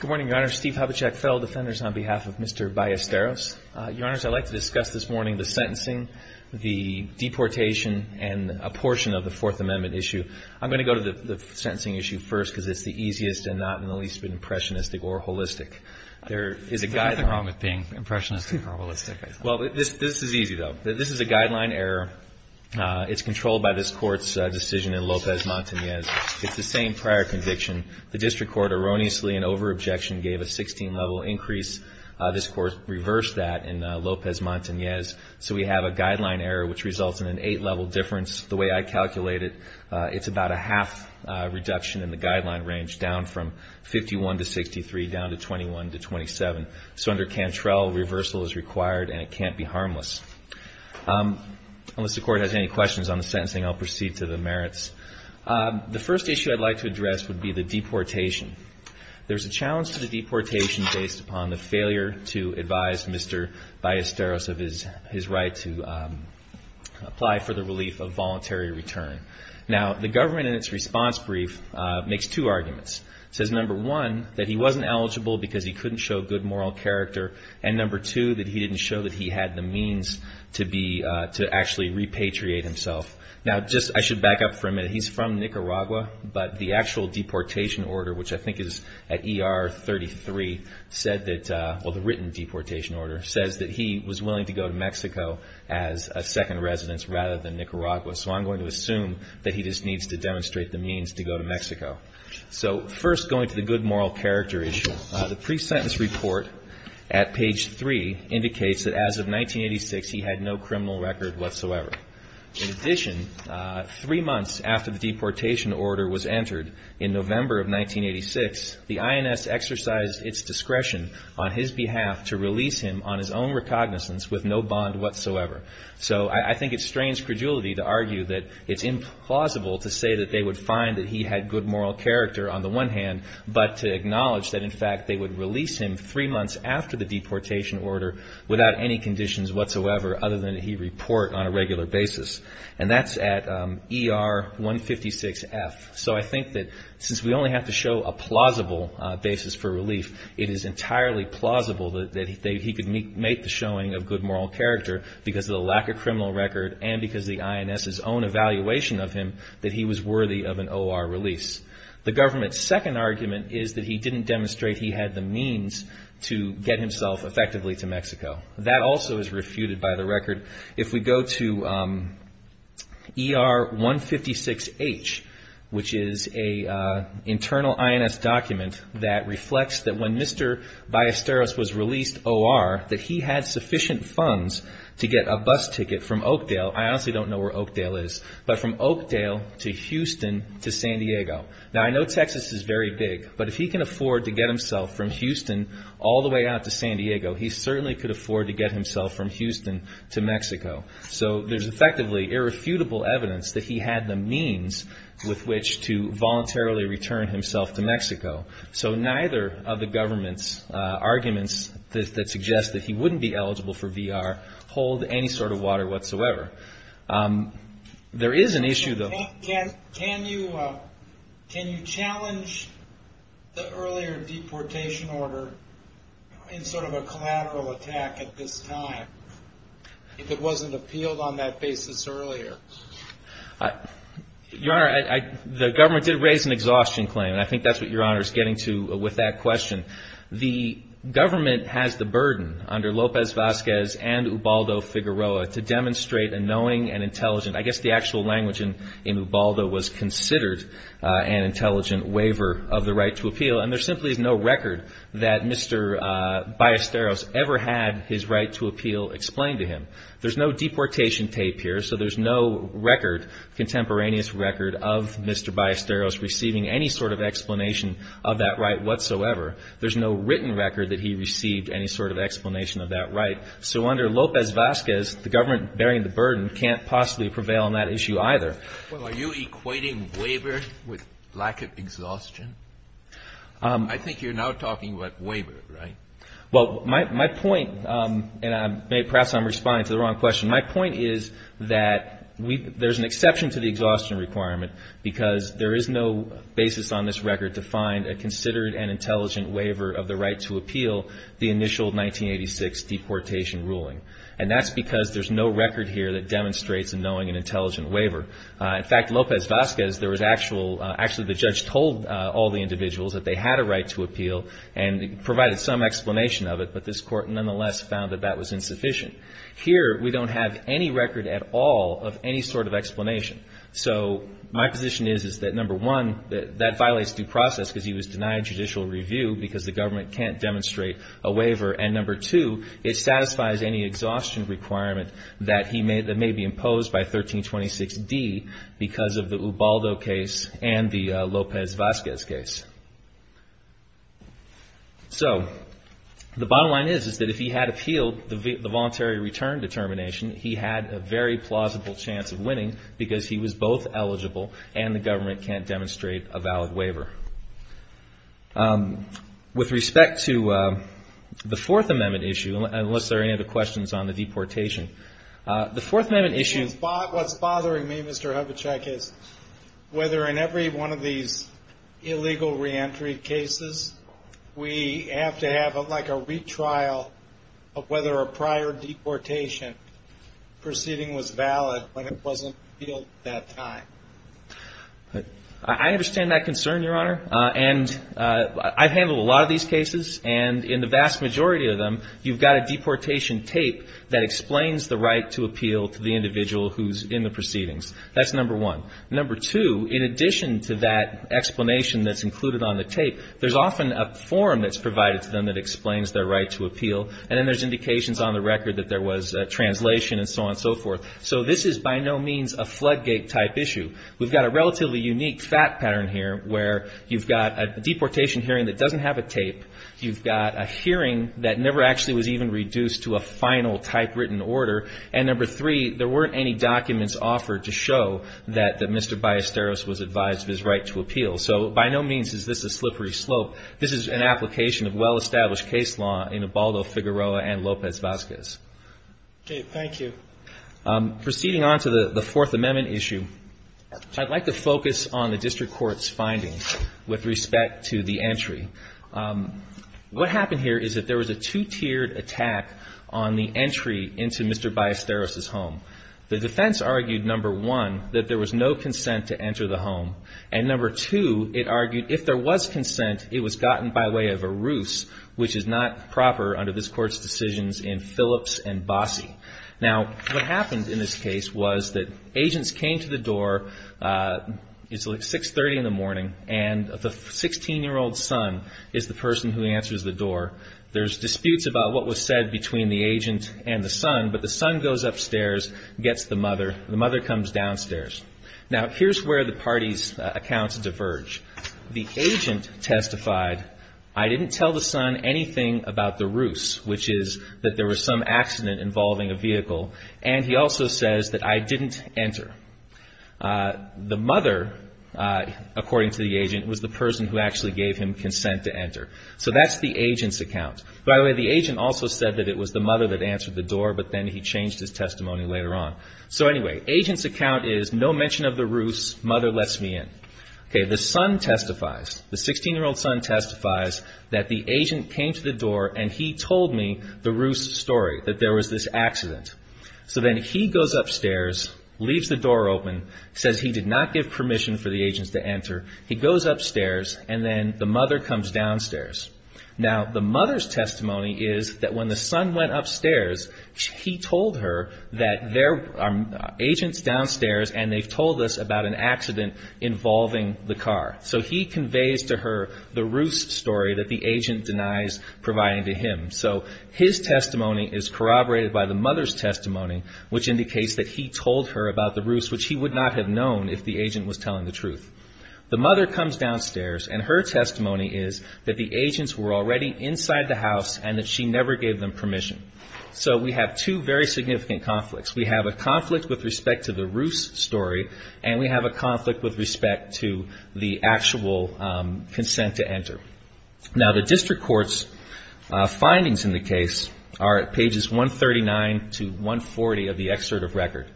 Good morning, Your Honor. Steve Hobachek, fellow defenders, on behalf of Mr. Ballesteros. Your Honors, I'd like to discuss this morning the sentencing, the deportation, and a portion of the Fourth Amendment issue. I'm going to go to the sentencing issue first because it's the easiest and not in the least impressionistic or holistic. There is a guideline. What's the problem with being impressionistic or holistic? Well, this is easy, though. This is a guideline error. It's controlled by this Court's decision in Lopez-Montanez. It's the same prior conviction. The District Court erroneously in over-objection gave a 16-level increase. This Court reversed that in Lopez-Montanez, so we have a guideline error which results in an 8-level difference. The way I calculate it, it's about a half reduction in the guideline range, down from 51 to 63, down to 21 to 27. So under Cantrell, reversal is required, and it can't be harmless. Unless the Court has any questions on the sentencing, I'll proceed to the merits. The first issue I'd like to address would be the deportation. There's a challenge to the deportation based upon the failure to advise Mr. Ballesteros of his right to apply for the relief of voluntary return. Now, the government in its response brief makes two arguments. It says, number one, that he wasn't eligible because he couldn't show good moral character, and number two, that he didn't show that he had the means to actually repatriate himself. Now, I should back up for a minute. He's from Nicaragua, but the actual deportation order, which I think is at ER 33, well, the written deportation order says that he was willing to go to Mexico as a second residence rather than Nicaragua. So I'm going to assume that he just needs to demonstrate the means to go to Mexico. So first, going to the good moral character issue. The pre-sentence report at page three indicates that as of 1986, he had no criminal record whatsoever. In addition, three months after the deportation order was entered, in November of 1986, the INS exercised its discretion on his behalf to release him on his own recognizance with no bond whatsoever. So I think it strains credulity to argue that it's implausible to say that they would find that he had good moral character on the one hand, but to acknowledge that, in fact, they would release him three months after the deportation order without any conditions whatsoever other than that he report on a regular basis. And that's at ER 156F. So I think that since we only have to show a plausible basis for relief, it is entirely plausible that he could make the showing of good moral character because of the lack of criminal record and because of the INS's own evaluation of him that he was worthy of an OR release. The government's second argument is that he didn't demonstrate he had the means to get himself effectively to Mexico. That also is refuted by the record. If we go to ER 156H, which is an internal INS document that reflects that when Mr. Ballesteros was released OR, that he had sufficient funds to get a bus ticket from Oakdale. I honestly don't know where Oakdale is, but from Oakdale to Houston to San Diego. Now, I know Texas is very big, but if he can afford to get himself from Houston all the way out to San Diego, he certainly could afford to get himself from Houston to Mexico. So there's effectively irrefutable evidence that he had the means with which to voluntarily return himself to Mexico. So neither of the government's arguments that suggest that he wouldn't be eligible for VR hold any sort of water whatsoever. There is an issue, though. Can you challenge the earlier deportation order in sort of a collateral attack at this time, if it wasn't appealed on that basis earlier? Your Honor, the government did raise an exhaustion claim, and I think that's what Your Honor is getting to with that question. The government has the burden under Lopez Vazquez and Ubaldo Figueroa to demonstrate a knowing and intelligent, I guess the actual language in Ubaldo was considered an intelligent waiver of the right to appeal, and there simply is no record that Mr. Ballesteros ever had his right to appeal explained to him. There's no deportation tape here, so there's no record, contemporaneous record, of Mr. Ballesteros receiving any sort of explanation of that right whatsoever. There's no written record that he received any sort of explanation of that right. So under Lopez Vazquez, the government bearing the burden can't possibly prevail on that issue either. Well, are you equating waiver with lack of exhaustion? I think you're now talking about waiver, right? Well, my point, and perhaps I'm responding to the wrong question, my point is that there's an exception to the exhaustion requirement because there is no basis on this record to find a considered and intelligent waiver of the right to appeal the initial 1986 deportation ruling, and that's because there's no record here that demonstrates a knowing and intelligent waiver. In fact, Lopez Vazquez, there was actual, actually the judge told all the individuals that they had a right to appeal and provided some explanation of it, but this Court nonetheless found that that was insufficient. Here, we don't have any record at all of any sort of explanation. So my position is that, number one, that violates due process because he was denied judicial review because the government can't demonstrate a waiver, and number two, it satisfies any exhaustion requirement that may be imposed by 1326D because of the Ubaldo case and the Lopez Vazquez case. So the bottom line is that if he had appealed the voluntary return determination, he had a very plausible chance of winning because he was both eligible and the government can't demonstrate a valid waiver. With respect to the Fourth Amendment issue, unless there are any other questions on the deportation, the Fourth Amendment issue... What's bothering me, Mr. Hubachek, is whether in every one of these illegal reentry cases, we have to have like a retrial of whether a prior deportation proceeding was valid when it wasn't appealed at that time. I understand that concern, Your Honor, and I've handled a lot of these cases, and in the vast majority of them, you've got a deportation tape that explains the right to appeal to the individual who's in the proceedings. That's number one. Number two, in addition to that explanation that's included on the tape, there's often a form that's provided to them that explains their right to appeal, and then there's indications on the record that there was a translation and so on and so forth. So this is by no means a floodgate-type issue. We've got a relatively unique fact pattern here where you've got a deportation hearing that doesn't have a tape, you've got a hearing that never actually was even reduced to a final typewritten order, and number three, there weren't any documents offered to show that Mr. Ballesteros was advised of his right to appeal. So by no means is this a slippery slope. This is an application of well-established case law in Ebaldo, Figueroa, and Lopez-Vazquez. Okay. Thank you. Proceeding on to the Fourth Amendment issue, I'd like to focus on the district court's findings with respect to the entry. What happened here is that there was a two-tiered attack on the entry into Mr. Ballesteros' home. The defense argued, number one, that there was no consent to enter the home, and number two, it argued if there was consent, it was gotten by way of a ruse, which is not proper under this Court's decisions in Phillips and Bossie. Now, what happened in this case was that agents came to the door. It's, like, 630 in the morning, and the 16-year-old son is the person who answers the door. There's disputes about what was said between the agent and the son, but the son goes upstairs, gets the mother. The mother comes downstairs. Now, here's where the parties' accounts diverge. The agent testified, I didn't tell the son anything about the ruse, which is that there was some accident involving a vehicle, and he also says that I didn't enter. The mother, according to the agent, was the person who actually gave him consent to enter. So that's the agent's account. By the way, the agent also said that it was the mother that answered the door, but then he changed his testimony later on. So anyway, agent's account is no mention of the ruse, mother lets me in. Okay, the son testifies, the 16-year-old son testifies that the agent came to the door and he told me the ruse story, that there was this accident. So then he goes upstairs, leaves the door open, says he did not give permission for the agents to enter. He goes upstairs, and then the mother comes downstairs. Now, the mother's testimony is that when the son went upstairs, he told her that there are agents downstairs and they've told us about an accident involving the car. So he conveys to her the ruse story that the agent denies providing to him. So his testimony is corroborated by the mother's testimony, which indicates that he told her about the ruse, which he would not have known if the agent was telling the truth. The mother comes downstairs, and her testimony is that the agents were already inside the house and that she never gave them permission. So we have two very significant conflicts. We have a conflict with respect to the ruse story, and we have a conflict with respect to the actual consent to enter. Now, the district court's findings in the case are at pages 139 to 140 of the excerpt of record.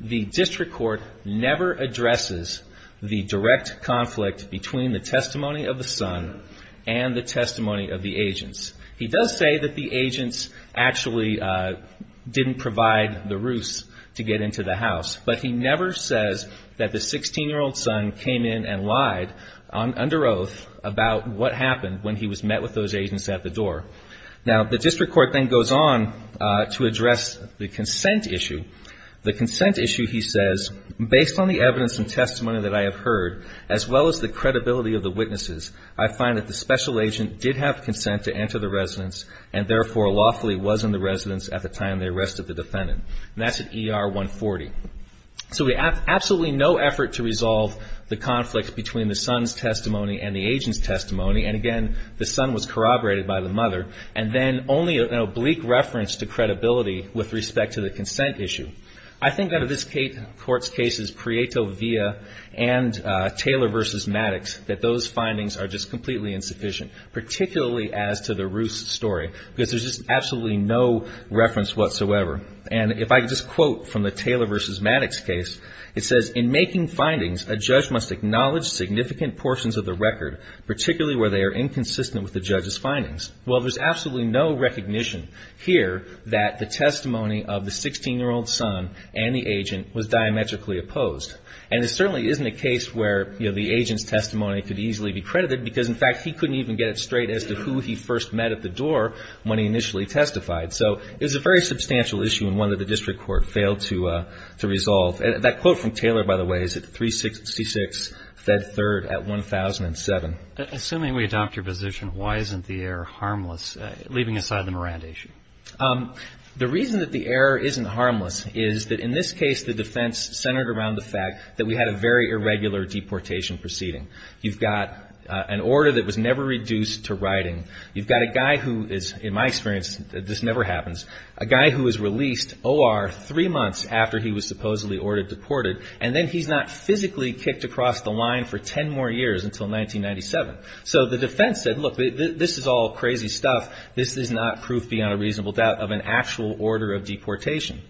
The district court never addresses the direct conflict between the testimony of the son and the testimony of the agents. He does say that the agents actually didn't provide the ruse to get into the house, but he never says that the 16-year-old son came in and lied under oath about what happened when he was met with those agents at the door. Now, the district court then goes on to address the consent issue. The consent issue, he says, based on the evidence and testimony that I have heard, as well as the credibility of the witnesses, I find that the special agent did have consent to enter the residence and therefore lawfully was in the residence at the time they arrested the defendant. And that's at ER 140. So we have absolutely no effort to resolve the conflict between the son's testimony and the agent's testimony. And again, the son was corroborated by the mother. And then only an oblique reference to credibility with respect to the consent issue. I think that in this court's cases, Prieto v. and Taylor v. Maddox, that those findings are just completely insufficient, particularly as to the ruse story, because there's just absolutely no reference whatsoever. And if I could just quote from the Taylor v. Maddox case, it says, in making findings, a judge must acknowledge significant portions of the record, particularly where they are inconsistent with the judge's findings. Well, there's absolutely no recognition here that the testimony of the 16-year-old son and the agent was diametrically opposed. And it certainly isn't a case where, you know, the agent's testimony could easily be credited, because, in fact, he couldn't even get it straight as to who he first met at the door when he initially testified. So it was a very substantial issue and one that the district court failed to resolve. That quote from Taylor, by the way, is at 366 Fed Third at 1007. Assuming we adopt your position, why isn't the error harmless, leaving aside the Miranda issue? The reason that the error isn't harmless is that, in this case, the defense centered around the fact that we had a very irregular deportation proceeding. You've got an order that was never reduced to writing. You've got a guy who is, in my experience, this never happens, a guy who was released O.R. three months after he was supposedly ordered deported, and then he's not physically kicked across the line for ten more years until 1997. So the defense said, look, this is all crazy stuff. This is not proof, beyond a reasonable doubt, of an actual order of deportation.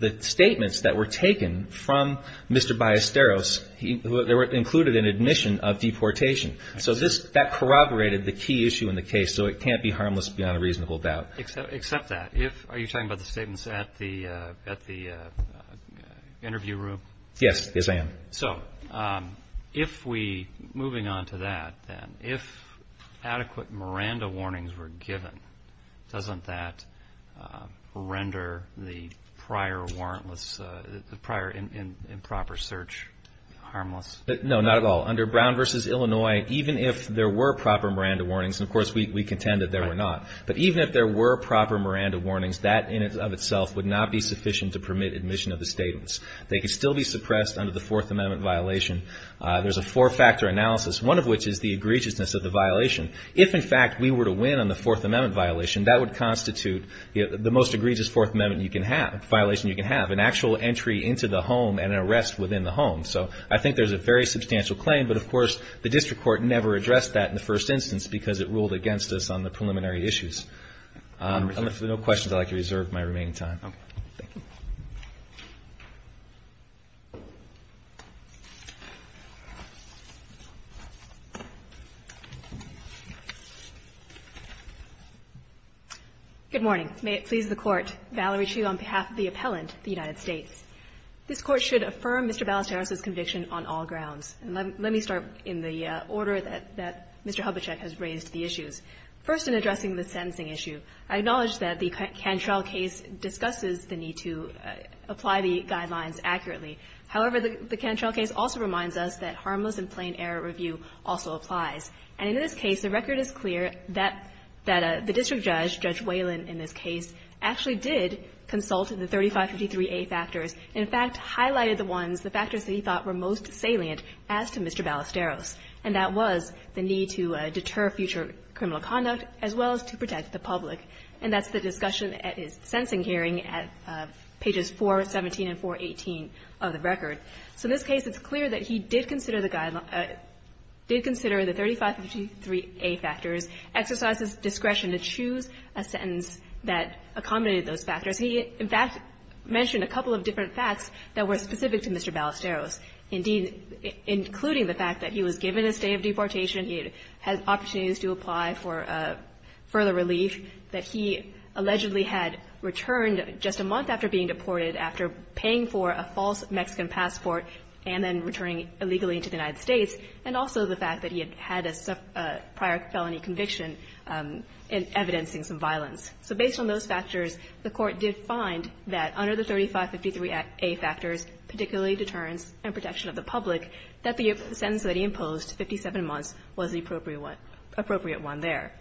The statements that were taken from Mr. Ballesteros, they included an admission of deportation. So that corroborated the key issue in the case, so it can't be harmless beyond a reasonable doubt. Except that. Are you talking about the statements at the interview room? Yes, yes, I am. So if we, moving on to that then, if adequate Miranda warnings were given, doesn't that render the prior warrantless, the prior improper search harmless? No, not at all. Under Brown v. Illinois, even if there were proper Miranda warnings, and of course we contend that there were not, but even if there were proper Miranda warnings, that in and of itself would not be sufficient to permit admission of the statements. They could still be suppressed under the Fourth Amendment violation. There's a four-factor analysis, one of which is the egregiousness of the violation. If, in fact, we were to win on the Fourth Amendment violation, that would constitute the most egregious Fourth Amendment violation you can have, an actual entry into the home and an arrest within the home. So I think there's a very substantial claim. But, of course, the district court never addressed that in the first instance because it ruled against us on the preliminary issues. If there are no questions, I'd like to reserve my remaining time. Okay. Thank you. Good morning. May it please the Court, Valerie Chu on behalf of the appellant, the United States. This Court should affirm Mr. Balateros's conviction on all grounds. And let me start in the order that Mr. Hubachek has raised the issues. First, in addressing the sentencing issue, I acknowledge that the Cantrell case discusses the need to apply the guidelines accurately. However, the Cantrell case also reminds us that harmless and plain error review also applies. And in this case, the record is clear that the district judge, Judge Whalen in this case, actually did consult the 3553A factors and, in fact, highlighted the ones, the factors that he thought were most salient as to Mr. Balateros, and that was the need to deter future criminal conduct as well as to protect the public. And that's the discussion at his sentencing hearing at pages 417 and 418 of the record. So in this case, it's clear that he did consider the guideline or did consider the 3553A factors, exercised his discretion to choose a sentence that accommodated those factors. He, in fact, mentioned a couple of different facts that were specific to Mr. Balateros, indeed, including the fact that he was given a state of deportation, he had opportunities to apply for further relief, that he allegedly had returned just a month after being deported, after paying for a false Mexican passport and then returning illegally to the United States, and also the fact that he had had a prior felony conviction in evidencing some violence. So based on those factors, the Court did find that under the 3553A factors, particularly deterrence and protection of the public, that the sentence that he imposed, 57 months, was the appropriate one there.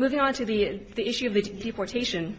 Moving on to the issue of the deportation,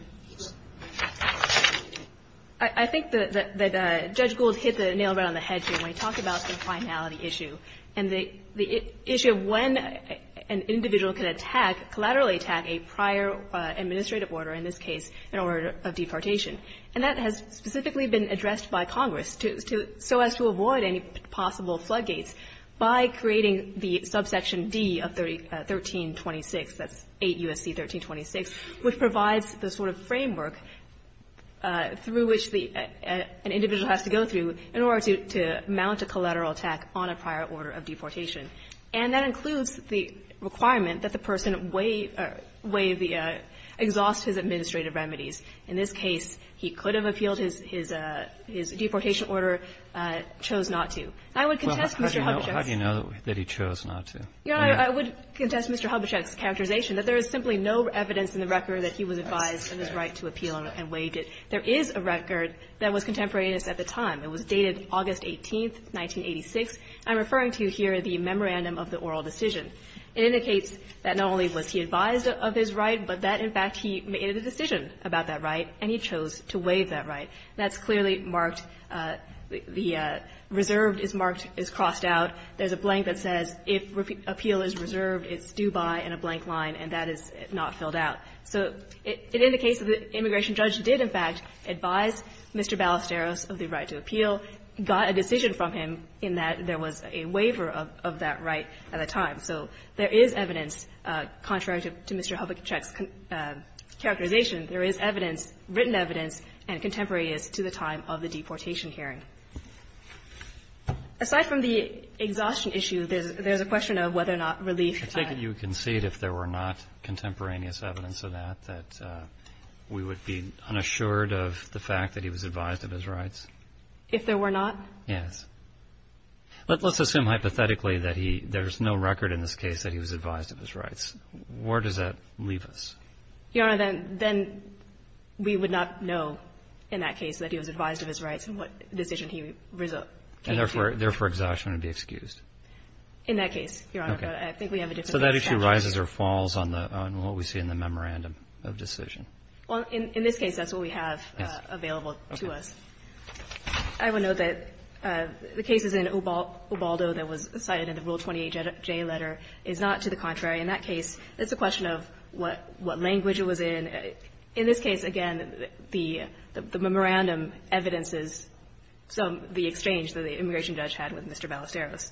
I think that Judge Gould hit the nail right on the head here when he talked about the finality issue and the issue of when an individual can attack, collaterally attack a prior administrative order, in this case an order of deportation. And that has specifically been addressed by Congress to so as to avoid any possible floodgates by creating the subsection D of 1326, that's 8 U.S.C. 1326, which provides the sort of framework through which the individual has to go through in order to mount a collateral attack on a prior order of deportation. And that includes the requirement that the person weigh the exhaust his administrative remedies. In this case, he could have appealed his deportation order, chose not to. And I would contest Mr. Hubachek's --- Breyer, how do you know that he chose not to? I would contest Mr. Hubachek's characterization that there is simply no evidence in the record that he was advised of his right to appeal and waived it. There is a record that was contemporaneous at the time. It was dated August 18th, 1986. I'm referring to here the memorandum of the oral decision. It indicates that not only was he advised of his right, but that, in fact, he made a decision about that right and he chose to waive that right. That's clearly marked, the reserved is marked, is crossed out. There's a blank that says, if appeal is reserved, it's due by, and a blank line. And that is not filled out. So it indicates that the immigration judge did, in fact, advise Mr. Ballesteros of the right to appeal, got a decision from him in that there was a waiver of that right at the time. So there is evidence, contrary to Mr. Hubachek's characterization, there is evidence, written evidence, and contemporaneous to the time of the deportation hearing. Aside from the exhaustion issue, there's a question of whether or not relief you can see it if there were not contemporaneous evidence of that, that we would be unassured of the fact that he was advised of his rights. If there were not? Yes. Let's assume hypothetically that he, there's no record in this case that he was advised of his rights. Where does that leave us? Your Honor, then, then we would not know in that case that he was advised of his rights and what decision he came to. And therefore, exhaustion would be excused. In that case, Your Honor. Okay. I think we have a different case. So that issue rises or falls on the, on what we see in the memorandum of decision? Well, in this case, that's what we have available to us. Okay. I would note that the cases in Ubaldo that was cited in the Rule 28J letter is not to the contrary. In that case, it's a question of what language it was in. In this case, again, the memorandum evidences some, the exchange that the immigration judge had with Mr. Balesteros.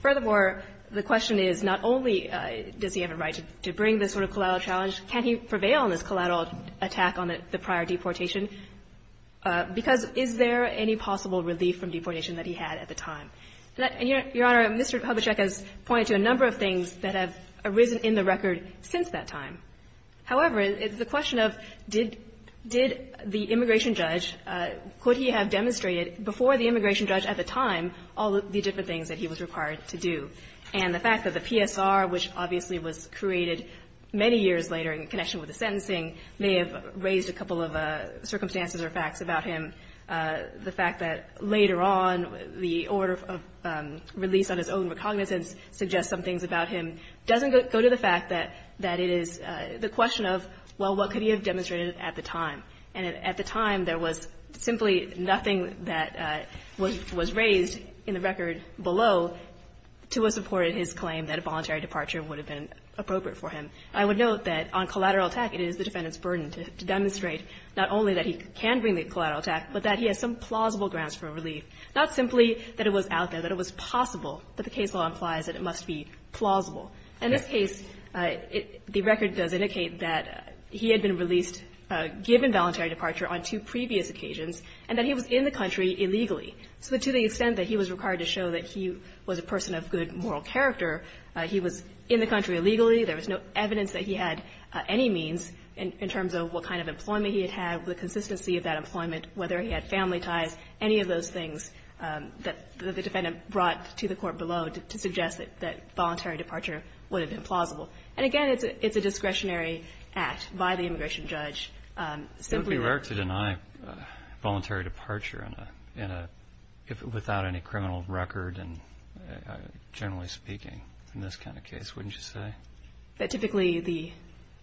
Furthermore, the question is not only does he have a right to bring this sort of collateral challenge, can he prevail on this collateral attack on the prior deportation? Because is there any possible relief from deportation that he had at the time? And, Your Honor, Mr. Hubachek has pointed to a number of things that have arisen in the record since that time. However, it's the question of did, did the immigration judge, could he have demonstrated before the immigration judge at the time all of the different things that he was required to do? And the fact that the PSR, which obviously was created many years later in connection with the sentencing, may have raised a couple of circumstances or facts about him, the fact that later on the order of release on his own recognizance suggests some things about him, doesn't go to the fact that, that it is the question of, well, what could he have demonstrated at the time? And at the time, there was simply nothing that was, was raised in the record below to have supported his claim that a voluntary departure would have been appropriate for him. I would note that on collateral attack, it is the defendant's burden to demonstrate not only that he can bring the collateral attack, but that he has some plausible grounds for relief, not simply that it was out there, that it was possible, but the case law implies that it must be plausible. In this case, it, the record does indicate that he had been released, given validation of a voluntary departure on two previous occasions, and that he was in the country illegally, so to the extent that he was required to show that he was a person of good moral character, he was in the country illegally, there was no evidence that he had any means in terms of what kind of employment he had had, the consistency of that employment, whether he had family ties, any of those things that the defendant brought to the court below to suggest that voluntary departure would have been plausible. And again, it's a discretionary act by the immigration judge. It would be rare to deny voluntary departure in a, without any criminal record, generally speaking, in this kind of case, wouldn't you say? That typically the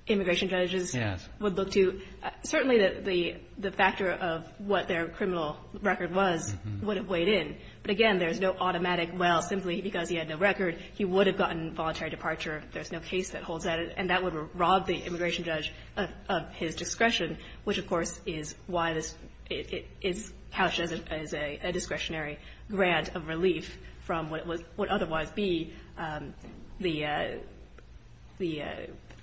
immigration judges would look to. Yes. Certainly the factor of what their criminal record was would have weighed in. But again, there's no automatic, well, simply because he had no record, he would have gotten voluntary departure. There's no case that holds that, and that would rob the immigration judge of his discretion, which, of course, is why it is couched as a discretionary grant of relief from what would otherwise be the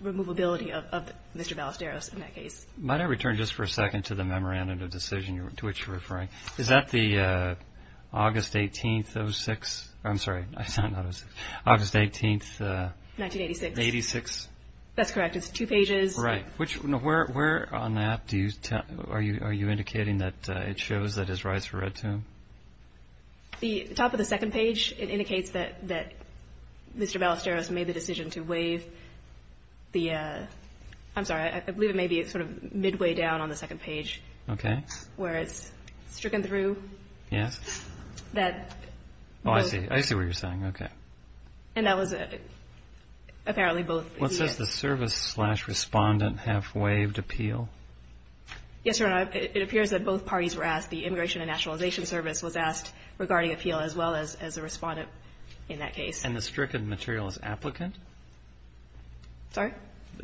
removability of Mr. Ballesteros in that case. Might I return just for a second to the memorandum of decision to which you're referring? Is that the August 18th, 06? I'm sorry, I said not 06. August 18th, 1986. That's correct. It's two pages. Right. Which, where on the app do you, are you indicating that it shows that his rights were read to him? The top of the second page, it indicates that Mr. Ballesteros made the decision to waive the, I'm sorry, I believe it may be sort of midway down on the second page. Okay. Where it's stricken through. Yes. That. Oh, I see. I see what you're saying. Okay. And that was, apparently both. What says the service slash respondent have waived appeal? Yes, Your Honor, it appears that both parties were asked. The Immigration and Nationalization Service was asked regarding appeal as well as the respondent in that case. And the stricken material is applicant? Sorry?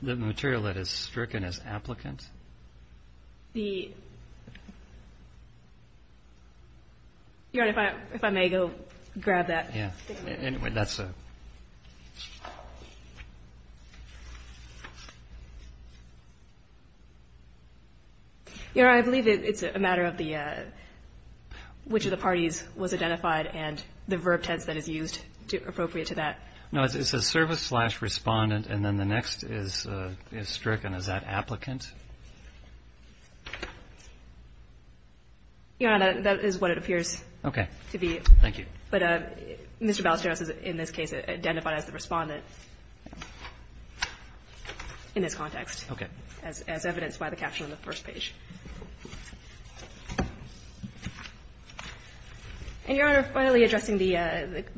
The material that is stricken is applicant? The, Your Honor, if I may go grab that. Yeah. Anyway, that's a. Your Honor, I believe it's a matter of the, which of the parties was identified and the verb tense that is used to appropriate to that. No, it says service slash respondent. And then the next is, is stricken. Is that applicant? Your Honor, that is what it appears to be. Thank you. But Mr. Ballesteros is, in this case, identified as the respondent in this context. Okay. As evidenced by the caption on the first page. And, Your Honor, finally addressing the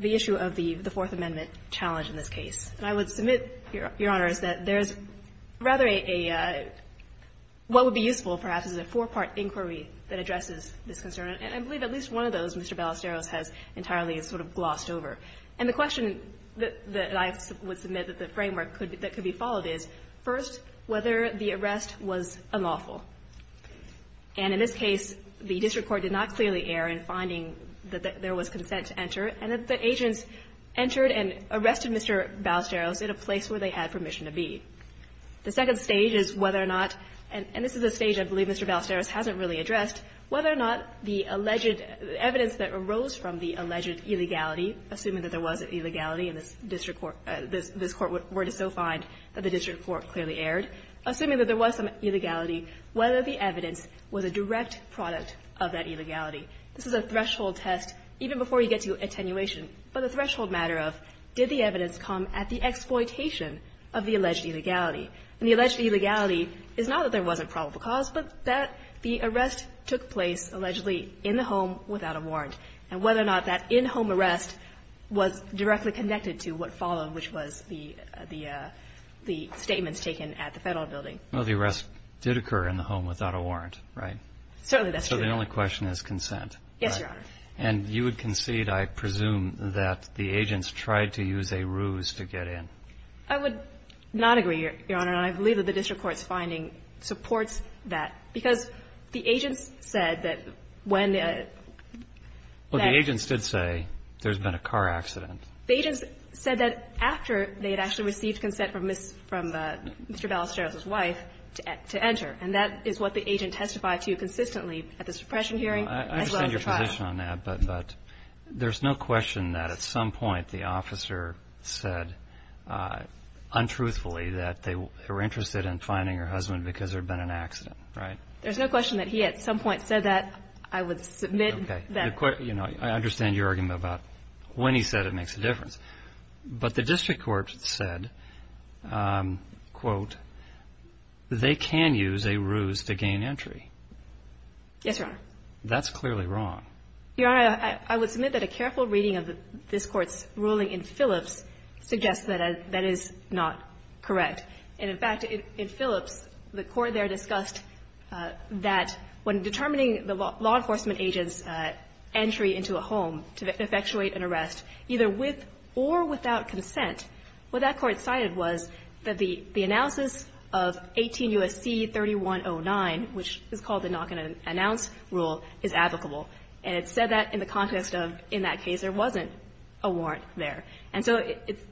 issue of the Fourth Amendment challenge in this case. And I would submit, Your Honor, is that there is rather a, what would be useful perhaps is a four-part inquiry that addresses this concern. And I believe at least one of those, Mr. Ballesteros has entirely sort of glossed over. And the question that I would submit that the framework could, that could be followed is, first, whether the arrest was unlawful. And in this case, the district court did not clearly err in finding that there was consent to enter. And that the agents entered and arrested Mr. Ballesteros at a place where they had permission to be. The second stage is whether or not, and this is a stage I believe Mr. Ballesteros hasn't really addressed, whether or not the alleged evidence that arose from the alleged illegality, assuming that there was an illegality in this district court, this Court were to so find that the district court clearly erred, assuming that there was some illegality, whether the evidence was a direct product of that illegality. This is a threshold test, even before you get to attenuation, but the threshold matter of, did the evidence come at the exploitation of the alleged illegality? And the alleged illegality is not that there wasn't probable cause, but that the arrest took place, allegedly, in the home without a warrant. And whether or not that in-home arrest was directly connected to what followed, which was the statements taken at the Federal building. Well, the arrest did occur in the home without a warrant, right? Certainly, that's true. So the only question is consent. Yes, Your Honor. And you would concede, I presume, that the agents tried to use a ruse to get in. I would not agree, Your Honor. And I believe that the district court's finding supports that. Because the agents said that when they had been in a car accident, the agents said that after they had actually received consent from Mr. Ballesteros' wife to enter. And that is what the agent testified to consistently at the suppression hearing as well as the trial. I understand your position on that, but there's no question that at some point the district court said, quote, they can use a ruse to gain entry. Yes, Your Honor. That's clearly wrong. Your Honor, I would submit that a careful reading of this Court's ruling in Phillips It's not correct. It's not correct. It's not correct. It's not correct. And in fact, in Phillips, the Court there discussed that when determining the law enforcement agent's entry into a home to effectuate an arrest, either with or without consent, what that Court cited was that the analysis of 18 U.S.C. 3109, which is called the knock and announce rule, is applicable. And it said that in the context of in that case there wasn't a warrant there. And so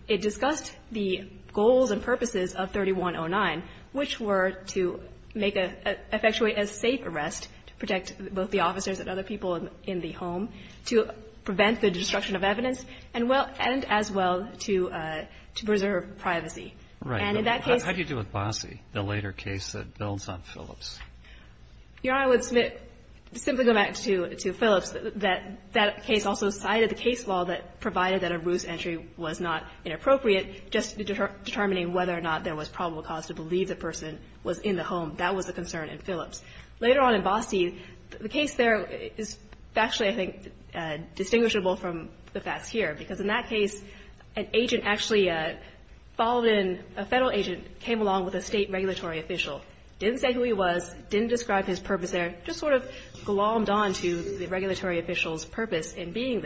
it discussed the goals and purposes of 3109, which were to make a – effectuate a safe arrest to protect both the officers and other people in the home, to prevent the destruction of evidence, and well – and as well to preserve privacy. And in that case – How do you deal with Bossie, the later case that builds on Phillips? Your Honor, I would submit, simply going back to Phillips, that that case also cited the case law that provided that a ruse entry was not inappropriate, just determining whether or not there was probable cause to believe the person was in the home. That was the concern in Phillips. Later on in Bossie, the case there is factually, I think, distinguishable from the facts here, because in that case, an agent actually followed in – a Federal agent came along with a State regulatory official, didn't say who he was, didn't describe his purpose there, just sort of glommed on to the regulatory official's name,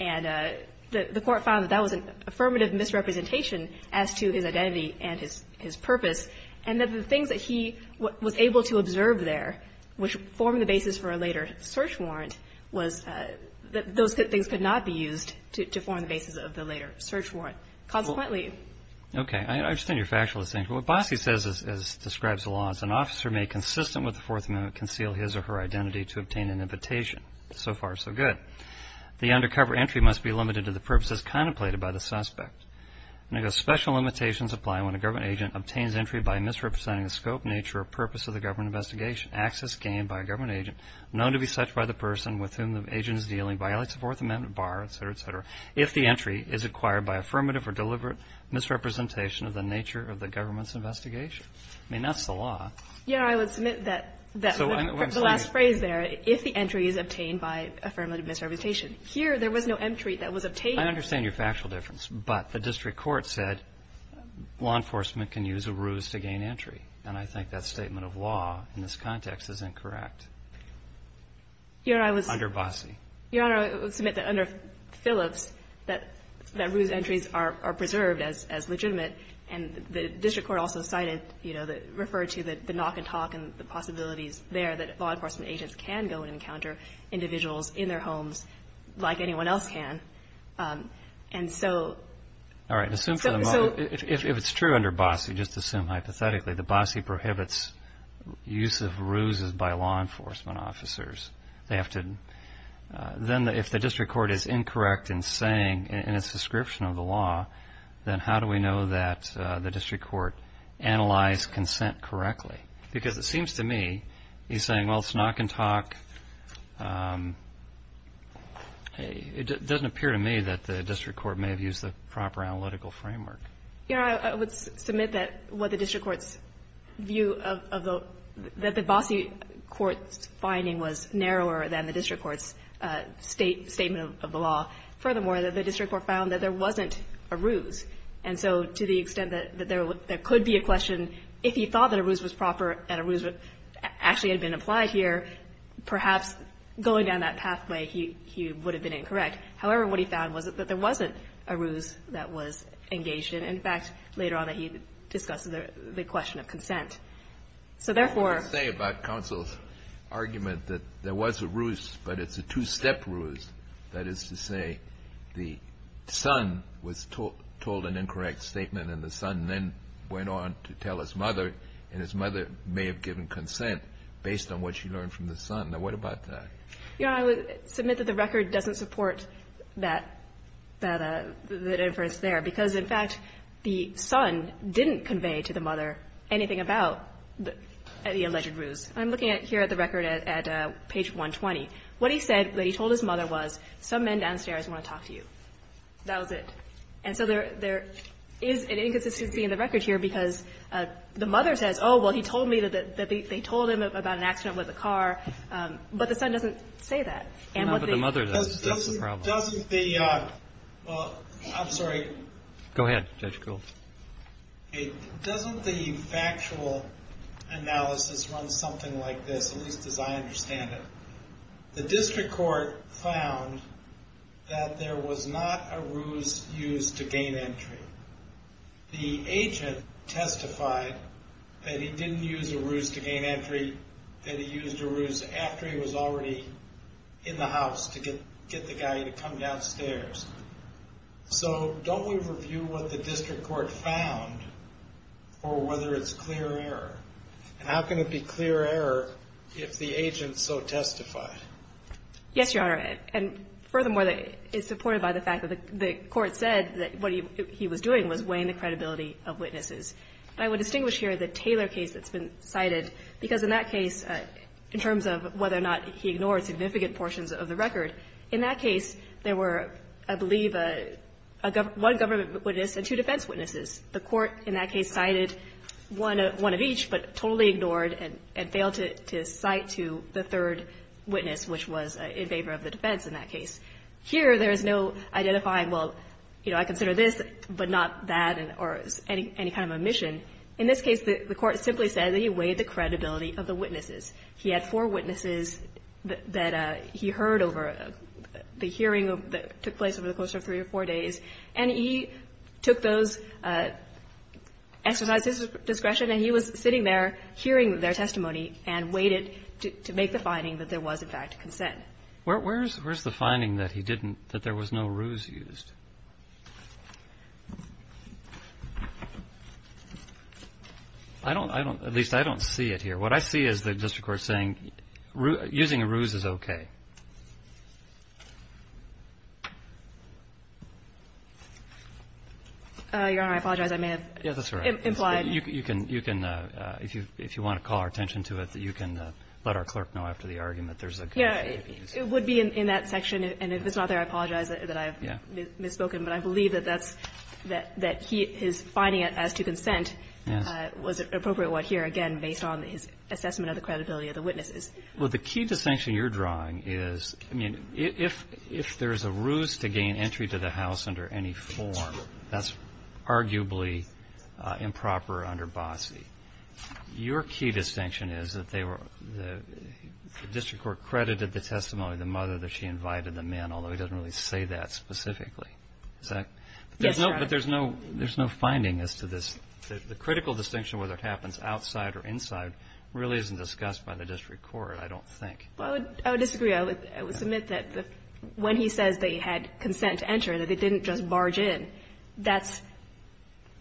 and the Court found that that was an affirmative misrepresentation as to his identity and his purpose, and that the things that he was able to observe there, which formed the basis for a later search warrant, was – those things could not be used to form the basis of the later search warrant. Consequently – Okay. I understand your factual distinction. What Bossie says, as describes the law, is an officer may, consistent with the Fourth Amendment, conceal his or her identity to obtain an invitation. So far, so good. The undercover entry must be limited to the purposes contemplated by the suspect. And it goes, special limitations apply when a government agent obtains entry by misrepresenting the scope, nature, or purpose of the government investigation. Access gained by a government agent, known to be such by the person with whom the agent is dealing, violates the Fourth Amendment bar, et cetera, et cetera, if the entry is acquired by affirmative or deliberate misrepresentation of the nature of the government's investigation. I mean, that's the law. Yeah. I would submit that – the last phrase there, if the entry is obtained by affirmative misrepresentation, here, there was no entry that was obtained by the government agent. I understand your factual difference, but the district court said law enforcement can use a ruse to gain entry, and I think that statement of law in this context is incorrect under Bossie. Your Honor, I would submit that under Phillips, that ruse entries are preserved as legitimate, and the district court also cited, you know, referred to the knock and talk and the possibilities there that law enforcement agents can go and encounter individuals in their homes like anyone else can. And so – All right. Assume for the moment – if it's true under Bossie, just assume hypothetically that Bossie prohibits use of ruses by law enforcement officers. They have to – then if the district court is incorrect in saying, in its description of the law, then how do we know that the district court analyzed consent correctly? Because it seems to me he's saying, well, it's knock and talk. It doesn't appear to me that the district court may have used the proper analytical framework. Your Honor, I would submit that what the district court's view of the – that the Bossie court's finding was narrower than the district court's statement of the law. Furthermore, the district court found that there wasn't a ruse. And so to the extent that there could be a question if he thought that a ruse was proper and a ruse actually had been applied here, perhaps going down that pathway, he would have been incorrect. However, what he found was that there wasn't a ruse that was engaged in. In fact, later on he discussed the question of consent. So therefore – I would say about counsel's argument that there was a ruse, but it's a two-step ruse. That is to say, the son was told an incorrect statement and the son then went on to tell his mother, and his mother may have given consent based on what she learned from the son. Now, what about that? Your Honor, I would submit that the record doesn't support that – that inference there, because in fact, the son didn't convey to the mother anything about the alleged ruse. I'm looking at here at the record at page 120. What he said, what he told his mother was, some men downstairs want to talk to you. That was it. And so there is an inconsistency in the record here, because the mother says, oh, well, he told me that they told him about an accident with a car. But the son doesn't say that. And what the – No, but the mother does. That's the problem. Doesn't the – well, I'm sorry. Go ahead, Judge Gould. Doesn't the factual analysis run something like this, at least as I understand it? The district court found that there was not a ruse used to gain entry. The agent testified that he didn't use a ruse to gain entry, that he used a ruse after he was already in the house to get the guy to come downstairs. So don't we review what the district court found for whether it's clear error? And how can it be clear error if the agent so testified? Yes, Your Honor. And furthermore, it's supported by the fact that the court said that what he was doing was weighing the credibility of witnesses. I would distinguish here the Taylor case that's been cited, because in that case, in terms of whether or not he ignored significant portions of the record, in that case, there were, I believe, one government witness and two defense witnesses. The court in that case cited one of each, but totally ignored and failed to cite to the third witness, which was in favor of the defense in that case. Here there is no identifying, well, you know, I consider this, but not that or any kind of omission. In this case, the court simply said that he weighed the credibility of the witnesses. He had four witnesses that he heard over the hearing that took place over the course of three or four days, and he took those, exercised his discretion, and he was sitting there hearing their testimony and weighed it to make the finding that there was, in fact, consent. Where's the finding that he didn't, that there was no ruse used? I don't, I don't, at least I don't see it here. What I see is the district court saying using a ruse is okay. Your Honor, I apologize. I may have implied. You can, you can, if you, if you want to call our attention to it, you can let our clerk know after the argument. There's a good case case. It would be in that section, and if it's not there, I apologize that I've misspoken. But I believe that that's, that he, his finding as to consent was appropriate here, again, based on his assessment of the credibility of the witnesses. Well, the key distinction you're drawing is, I mean, if, if there's a ruse to gain entry to the house under any form, that's arguably improper under BOCCE. Your key distinction is that they were, the district court credited the testimony of the mother that she invited the men, although he doesn't really say that specifically. Is that? Yes, Your Honor. But there's no, there's no finding as to this. The critical distinction, whether it happens outside or inside, really isn't discussed by the district court, I don't think. Well, I would, I would disagree. I would, I would submit that when he says they had consent to enter, that they didn't just barge in, that's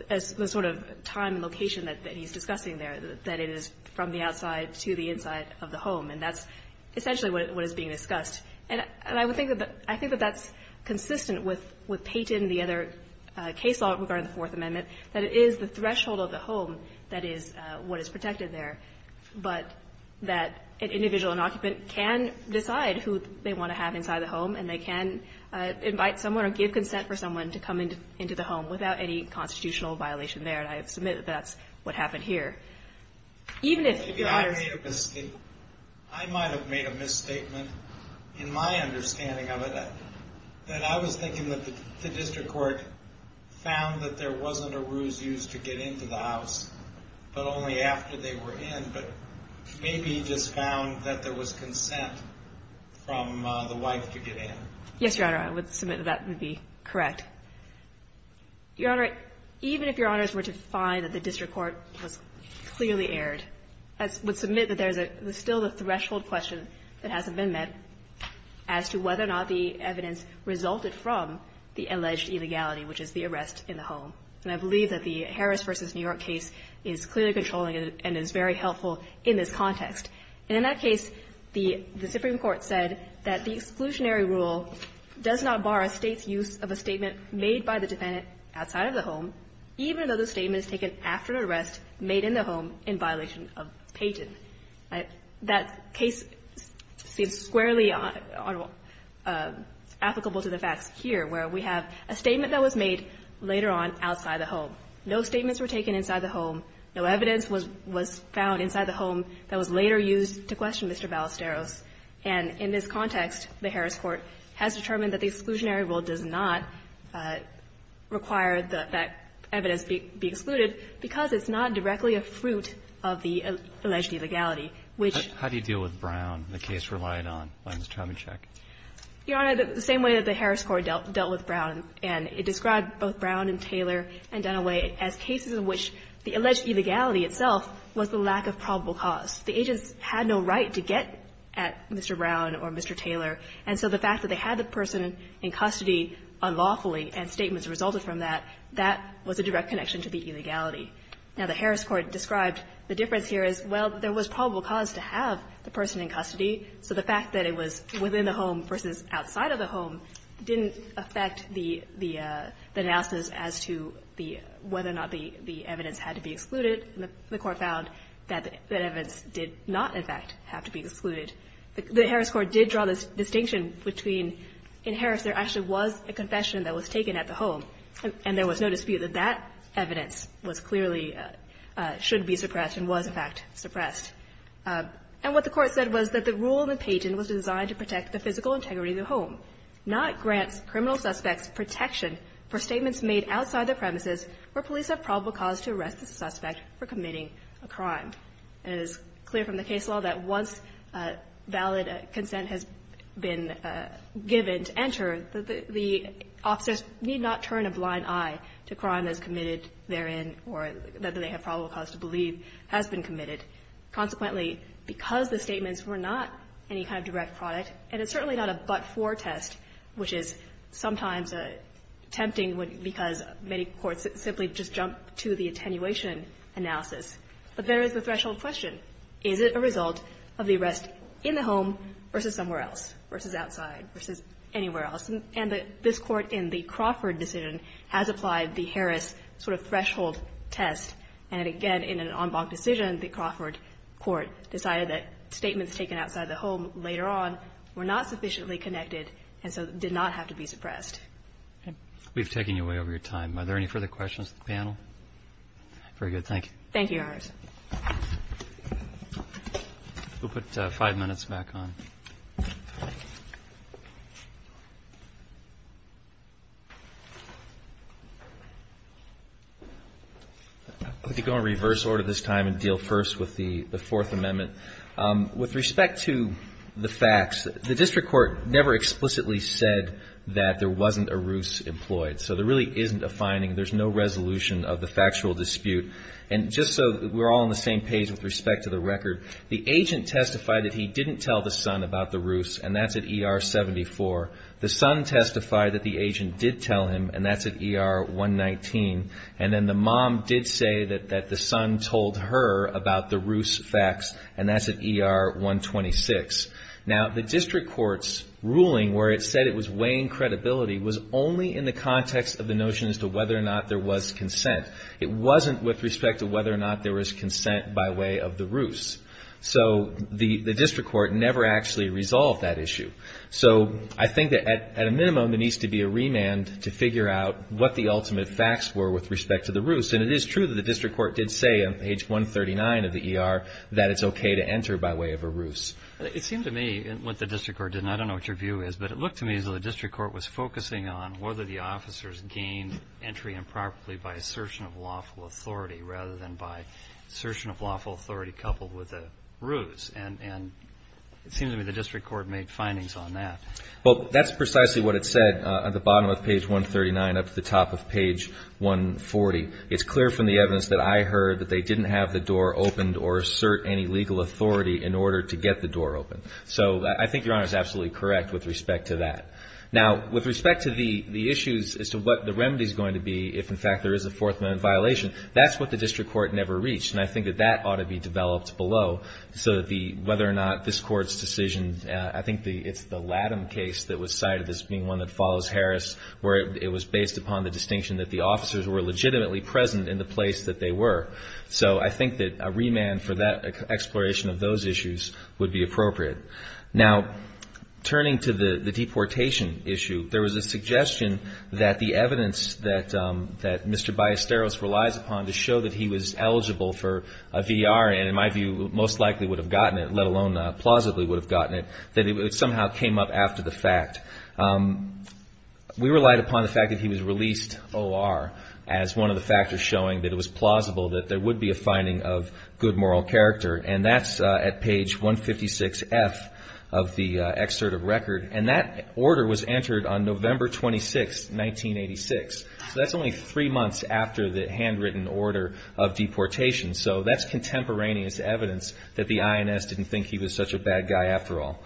the sort of time and location that he's discussing there, that it is from the outside to the inside of the home, and that's essentially what is being discussed. And I would think that the, I think that that's consistent with, with Payton and the other case law regarding the Fourth Amendment, that it is the threshold of the home that is what is protected there. But that an individual, an occupant, can decide who they want to have inside the home, and they can invite someone or give consent for someone to come into, into the home without any constitutional violation there. And I submit that that's what happened here. Even if, Your Honor. I made a, I might have made a misstatement in my understanding of it, that I was thinking that the district court found that there wasn't a ruse used to get into the house, but only after they were in, but maybe he just found that there was consent from the wife to get in. Yes, Your Honor. I would submit that that would be correct. Your Honor, even if Your Honors were to find that the district court was clearly erred, I would submit that there's a, there's still a threshold question that hasn't been met as to whether or not the evidence resulted from the alleged illegality, which is the arrest in the home. And I believe that the Harris v. New York case is clearly controlling it and is very helpful in this context. And in that case, the, the Supreme Court said that the exclusionary rule does not bar a State's use of a statement made by the defendant outside of the home, even though the statement is taken after an arrest made in the home in violation of Paget. That case seems squarely applicable to the facts here, where we have a statement that was made later on outside the home. No statements were taken inside the home. No evidence was, was found inside the home that was later used to question Mr. Ballesteros. And in this context, the Harris court has determined that the exclusionary rule does not require that, that evidence be, be excluded because it's not directly a fruit of the alleged illegality, which ---- How do you deal with Brown, the case relied on by Mr. Chomyshek? Your Honor, the same way that the Harris court dealt, dealt with Brown, and it described both Brown and Taylor and Dunaway as cases in which the alleged illegality itself was the lack of probable cause. The agents had no right to get at Mr. Brown or Mr. Taylor, and so the fact that they had the person in custody unlawfully and statements resulted from that, that was a direct connection to the illegality. Now, the Harris court described the difference here as, well, there was probable cause to have the person in custody, so the fact that it was within the home versus outside of the home didn't affect the, the, the analysis as to the, whether or not the, the evidence had to be excluded, and the court found that, that evidence did not, in fact, have to be excluded. The Harris court did draw this distinction between, in Harris, there actually was a confession that was taken at the home, and there was no dispute that that evidence was clearly, should be suppressed and was, in fact, suppressed. And what the court said was that the rule in the pageant was designed to protect the physical integrity of the home, not grant criminal suspects protection for statements made outside the premises where police have probable cause to arrest the suspect for committing a crime. And it is clear from the case law that once valid consent has been given to enter, the, the officers need not turn a blind eye to crime that is committed therein or that they have probable cause to believe has been committed. Consequently, because the statements were not any kind of direct product, and it's certainly not a but-for test, which is sometimes tempting because many courts simply just jump to the attenuation analysis, but there is the threshold question. Is it a result of the arrest in the home versus somewhere else, versus outside, versus anywhere else? And this Court, in the Crawford decision, has applied the Harris sort of threshold test. And again, in an en banc decision, the Crawford court decided that statements taken outside the home later on were not sufficiently connected and so did not have to be suppressed. Roberts. We've taken you way over your time. Are there any further questions of the panel? Very good. Thank you. Thank you, Your Honors. We'll put five minutes back on. I'm going to go in reverse order this time and deal first with the Fourth Amendment. With respect to the facts, the district court never explicitly said that there wasn't a ruse employed. So there really isn't a finding. There's no resolution of the factual dispute. And just so we're all on the same page with respect to the record, the agent testified that he didn't tell the son about the ruse, and that's at ER 74. The son testified that the agent did tell him, and that's at ER 119. And then the mom did say that the son told her about the ruse facts, and that's at ER 126. Now, the district court's ruling where it said it was weighing credibility was only in the context of the notion as to whether or not there was consent. It wasn't with respect to whether or not there was consent by way of the ruse. So the district court never actually resolved that issue. So I think that at a minimum, there needs to be a remand to figure out what the ultimate facts were with respect to the ruse. And it is true that the district court did say on page 139 of the ER that it's okay to enter by way of a ruse. It seemed to me, and what the district court did, and I don't know what your view is, but it looked to me as though the district court was focusing on whether the officers gained entry improperly by assertion of lawful authority rather than by assertion of lawful authority coupled with a ruse. And it seemed to me the district court made findings on that. Well, that's precisely what it said at the bottom of page 139 up to the top of page 140. It's clear from the evidence that I heard that they didn't have the door opened or assert any legal authority in order to get the door open. So I think Your Honor is absolutely correct with respect to that. Now, with respect to the issues as to what the remedy is going to be if, in fact, there is a Fourth Amendment violation, that's what the district court never reached. And I think that that ought to be developed below so that the – whether or not this Court's decision – I think it's the Latham case that was cited as being one that follows Harris, where it was based upon the distinction that the officers were legitimately present in the place that they were. So I think that a remand for that exploration of those issues would be appropriate. Now, turning to the deportation issue, there was a suggestion that the evidence that Mr. Harris was eligible for VR and, in my view, most likely would have gotten it, let alone plausibly would have gotten it, that it somehow came up after the fact. We relied upon the fact that he was released O.R. as one of the factors showing that it was plausible that there would be a finding of good moral character. And that's at page 156F of the excerpt of record. And that order was entered on November 26, 1986. So that's only three months after the handwritten order of deportation. So that's contemporaneous evidence that the INS didn't think he was such a bad guy after all.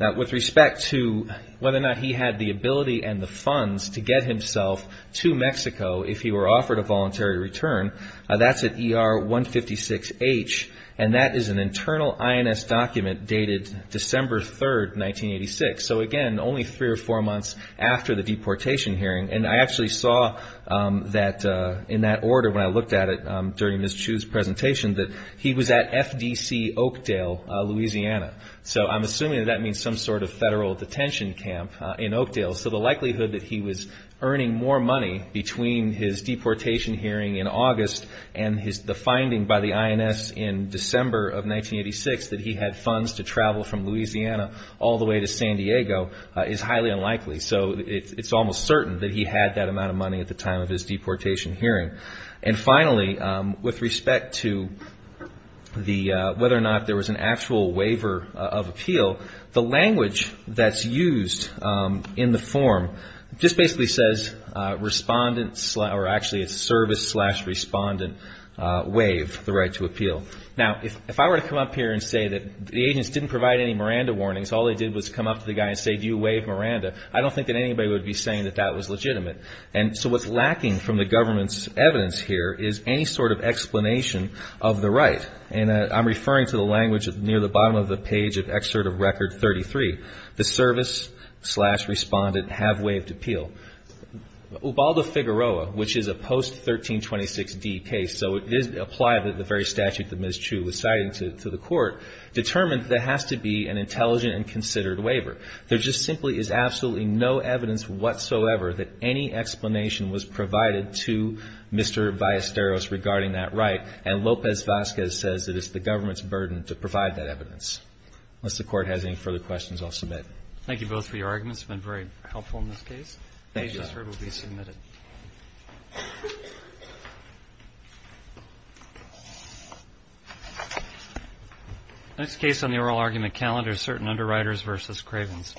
Now, with respect to whether or not he had the ability and the funds to get himself to Mexico if he were offered a voluntary return, that's at ER 156H. And that is an internal INS document dated December 3, 1986. So again, only three or four months after the deportation hearing. And I actually saw that in that order when I looked at it during Ms. Chu's presentation that he was at FDC Oakdale, Louisiana. So I'm assuming that that means some sort of federal detention camp in Oakdale. So the likelihood that he was earning more money between his deportation hearing in August and the finding by the INS in December of 1986 that he had funds to travel from Louisiana all the way to San Diego is highly unlikely. So it's almost certain that he had that amount of money at the time of his deportation hearing. And finally, with respect to whether or not there was an actual waiver of appeal, the language that's used in the form just basically says, service slash respondent waive the right to appeal. Now, if I were to come up here and say that the agents didn't provide any Miranda warnings, all they did was come up to the guy and say, do you waive Miranda, I don't think that anybody would be saying that that was legitimate. And so what's lacking from the government's evidence here is any sort of explanation of the right. And I'm referring to the language near the bottom of the page of Excerpt of Record 33, the service slash respondent have waived appeal. Ubaldo Figueroa, which is a post-1326D case, so it is applied to the very statute that states that there is no evidence whatsoever that any explanation was provided to Mr. Vallesteros regarding that right. And Lopez-Vasquez says that it's the government's burden to provide that evidence. Unless the Court has any further questions, I'll submit. Thank you both for your arguments. It's been very helpful in this case. Thank you. The case I just heard will be submitted. Next case on the oral argument calendar is Certain Underwriters v. Cravens.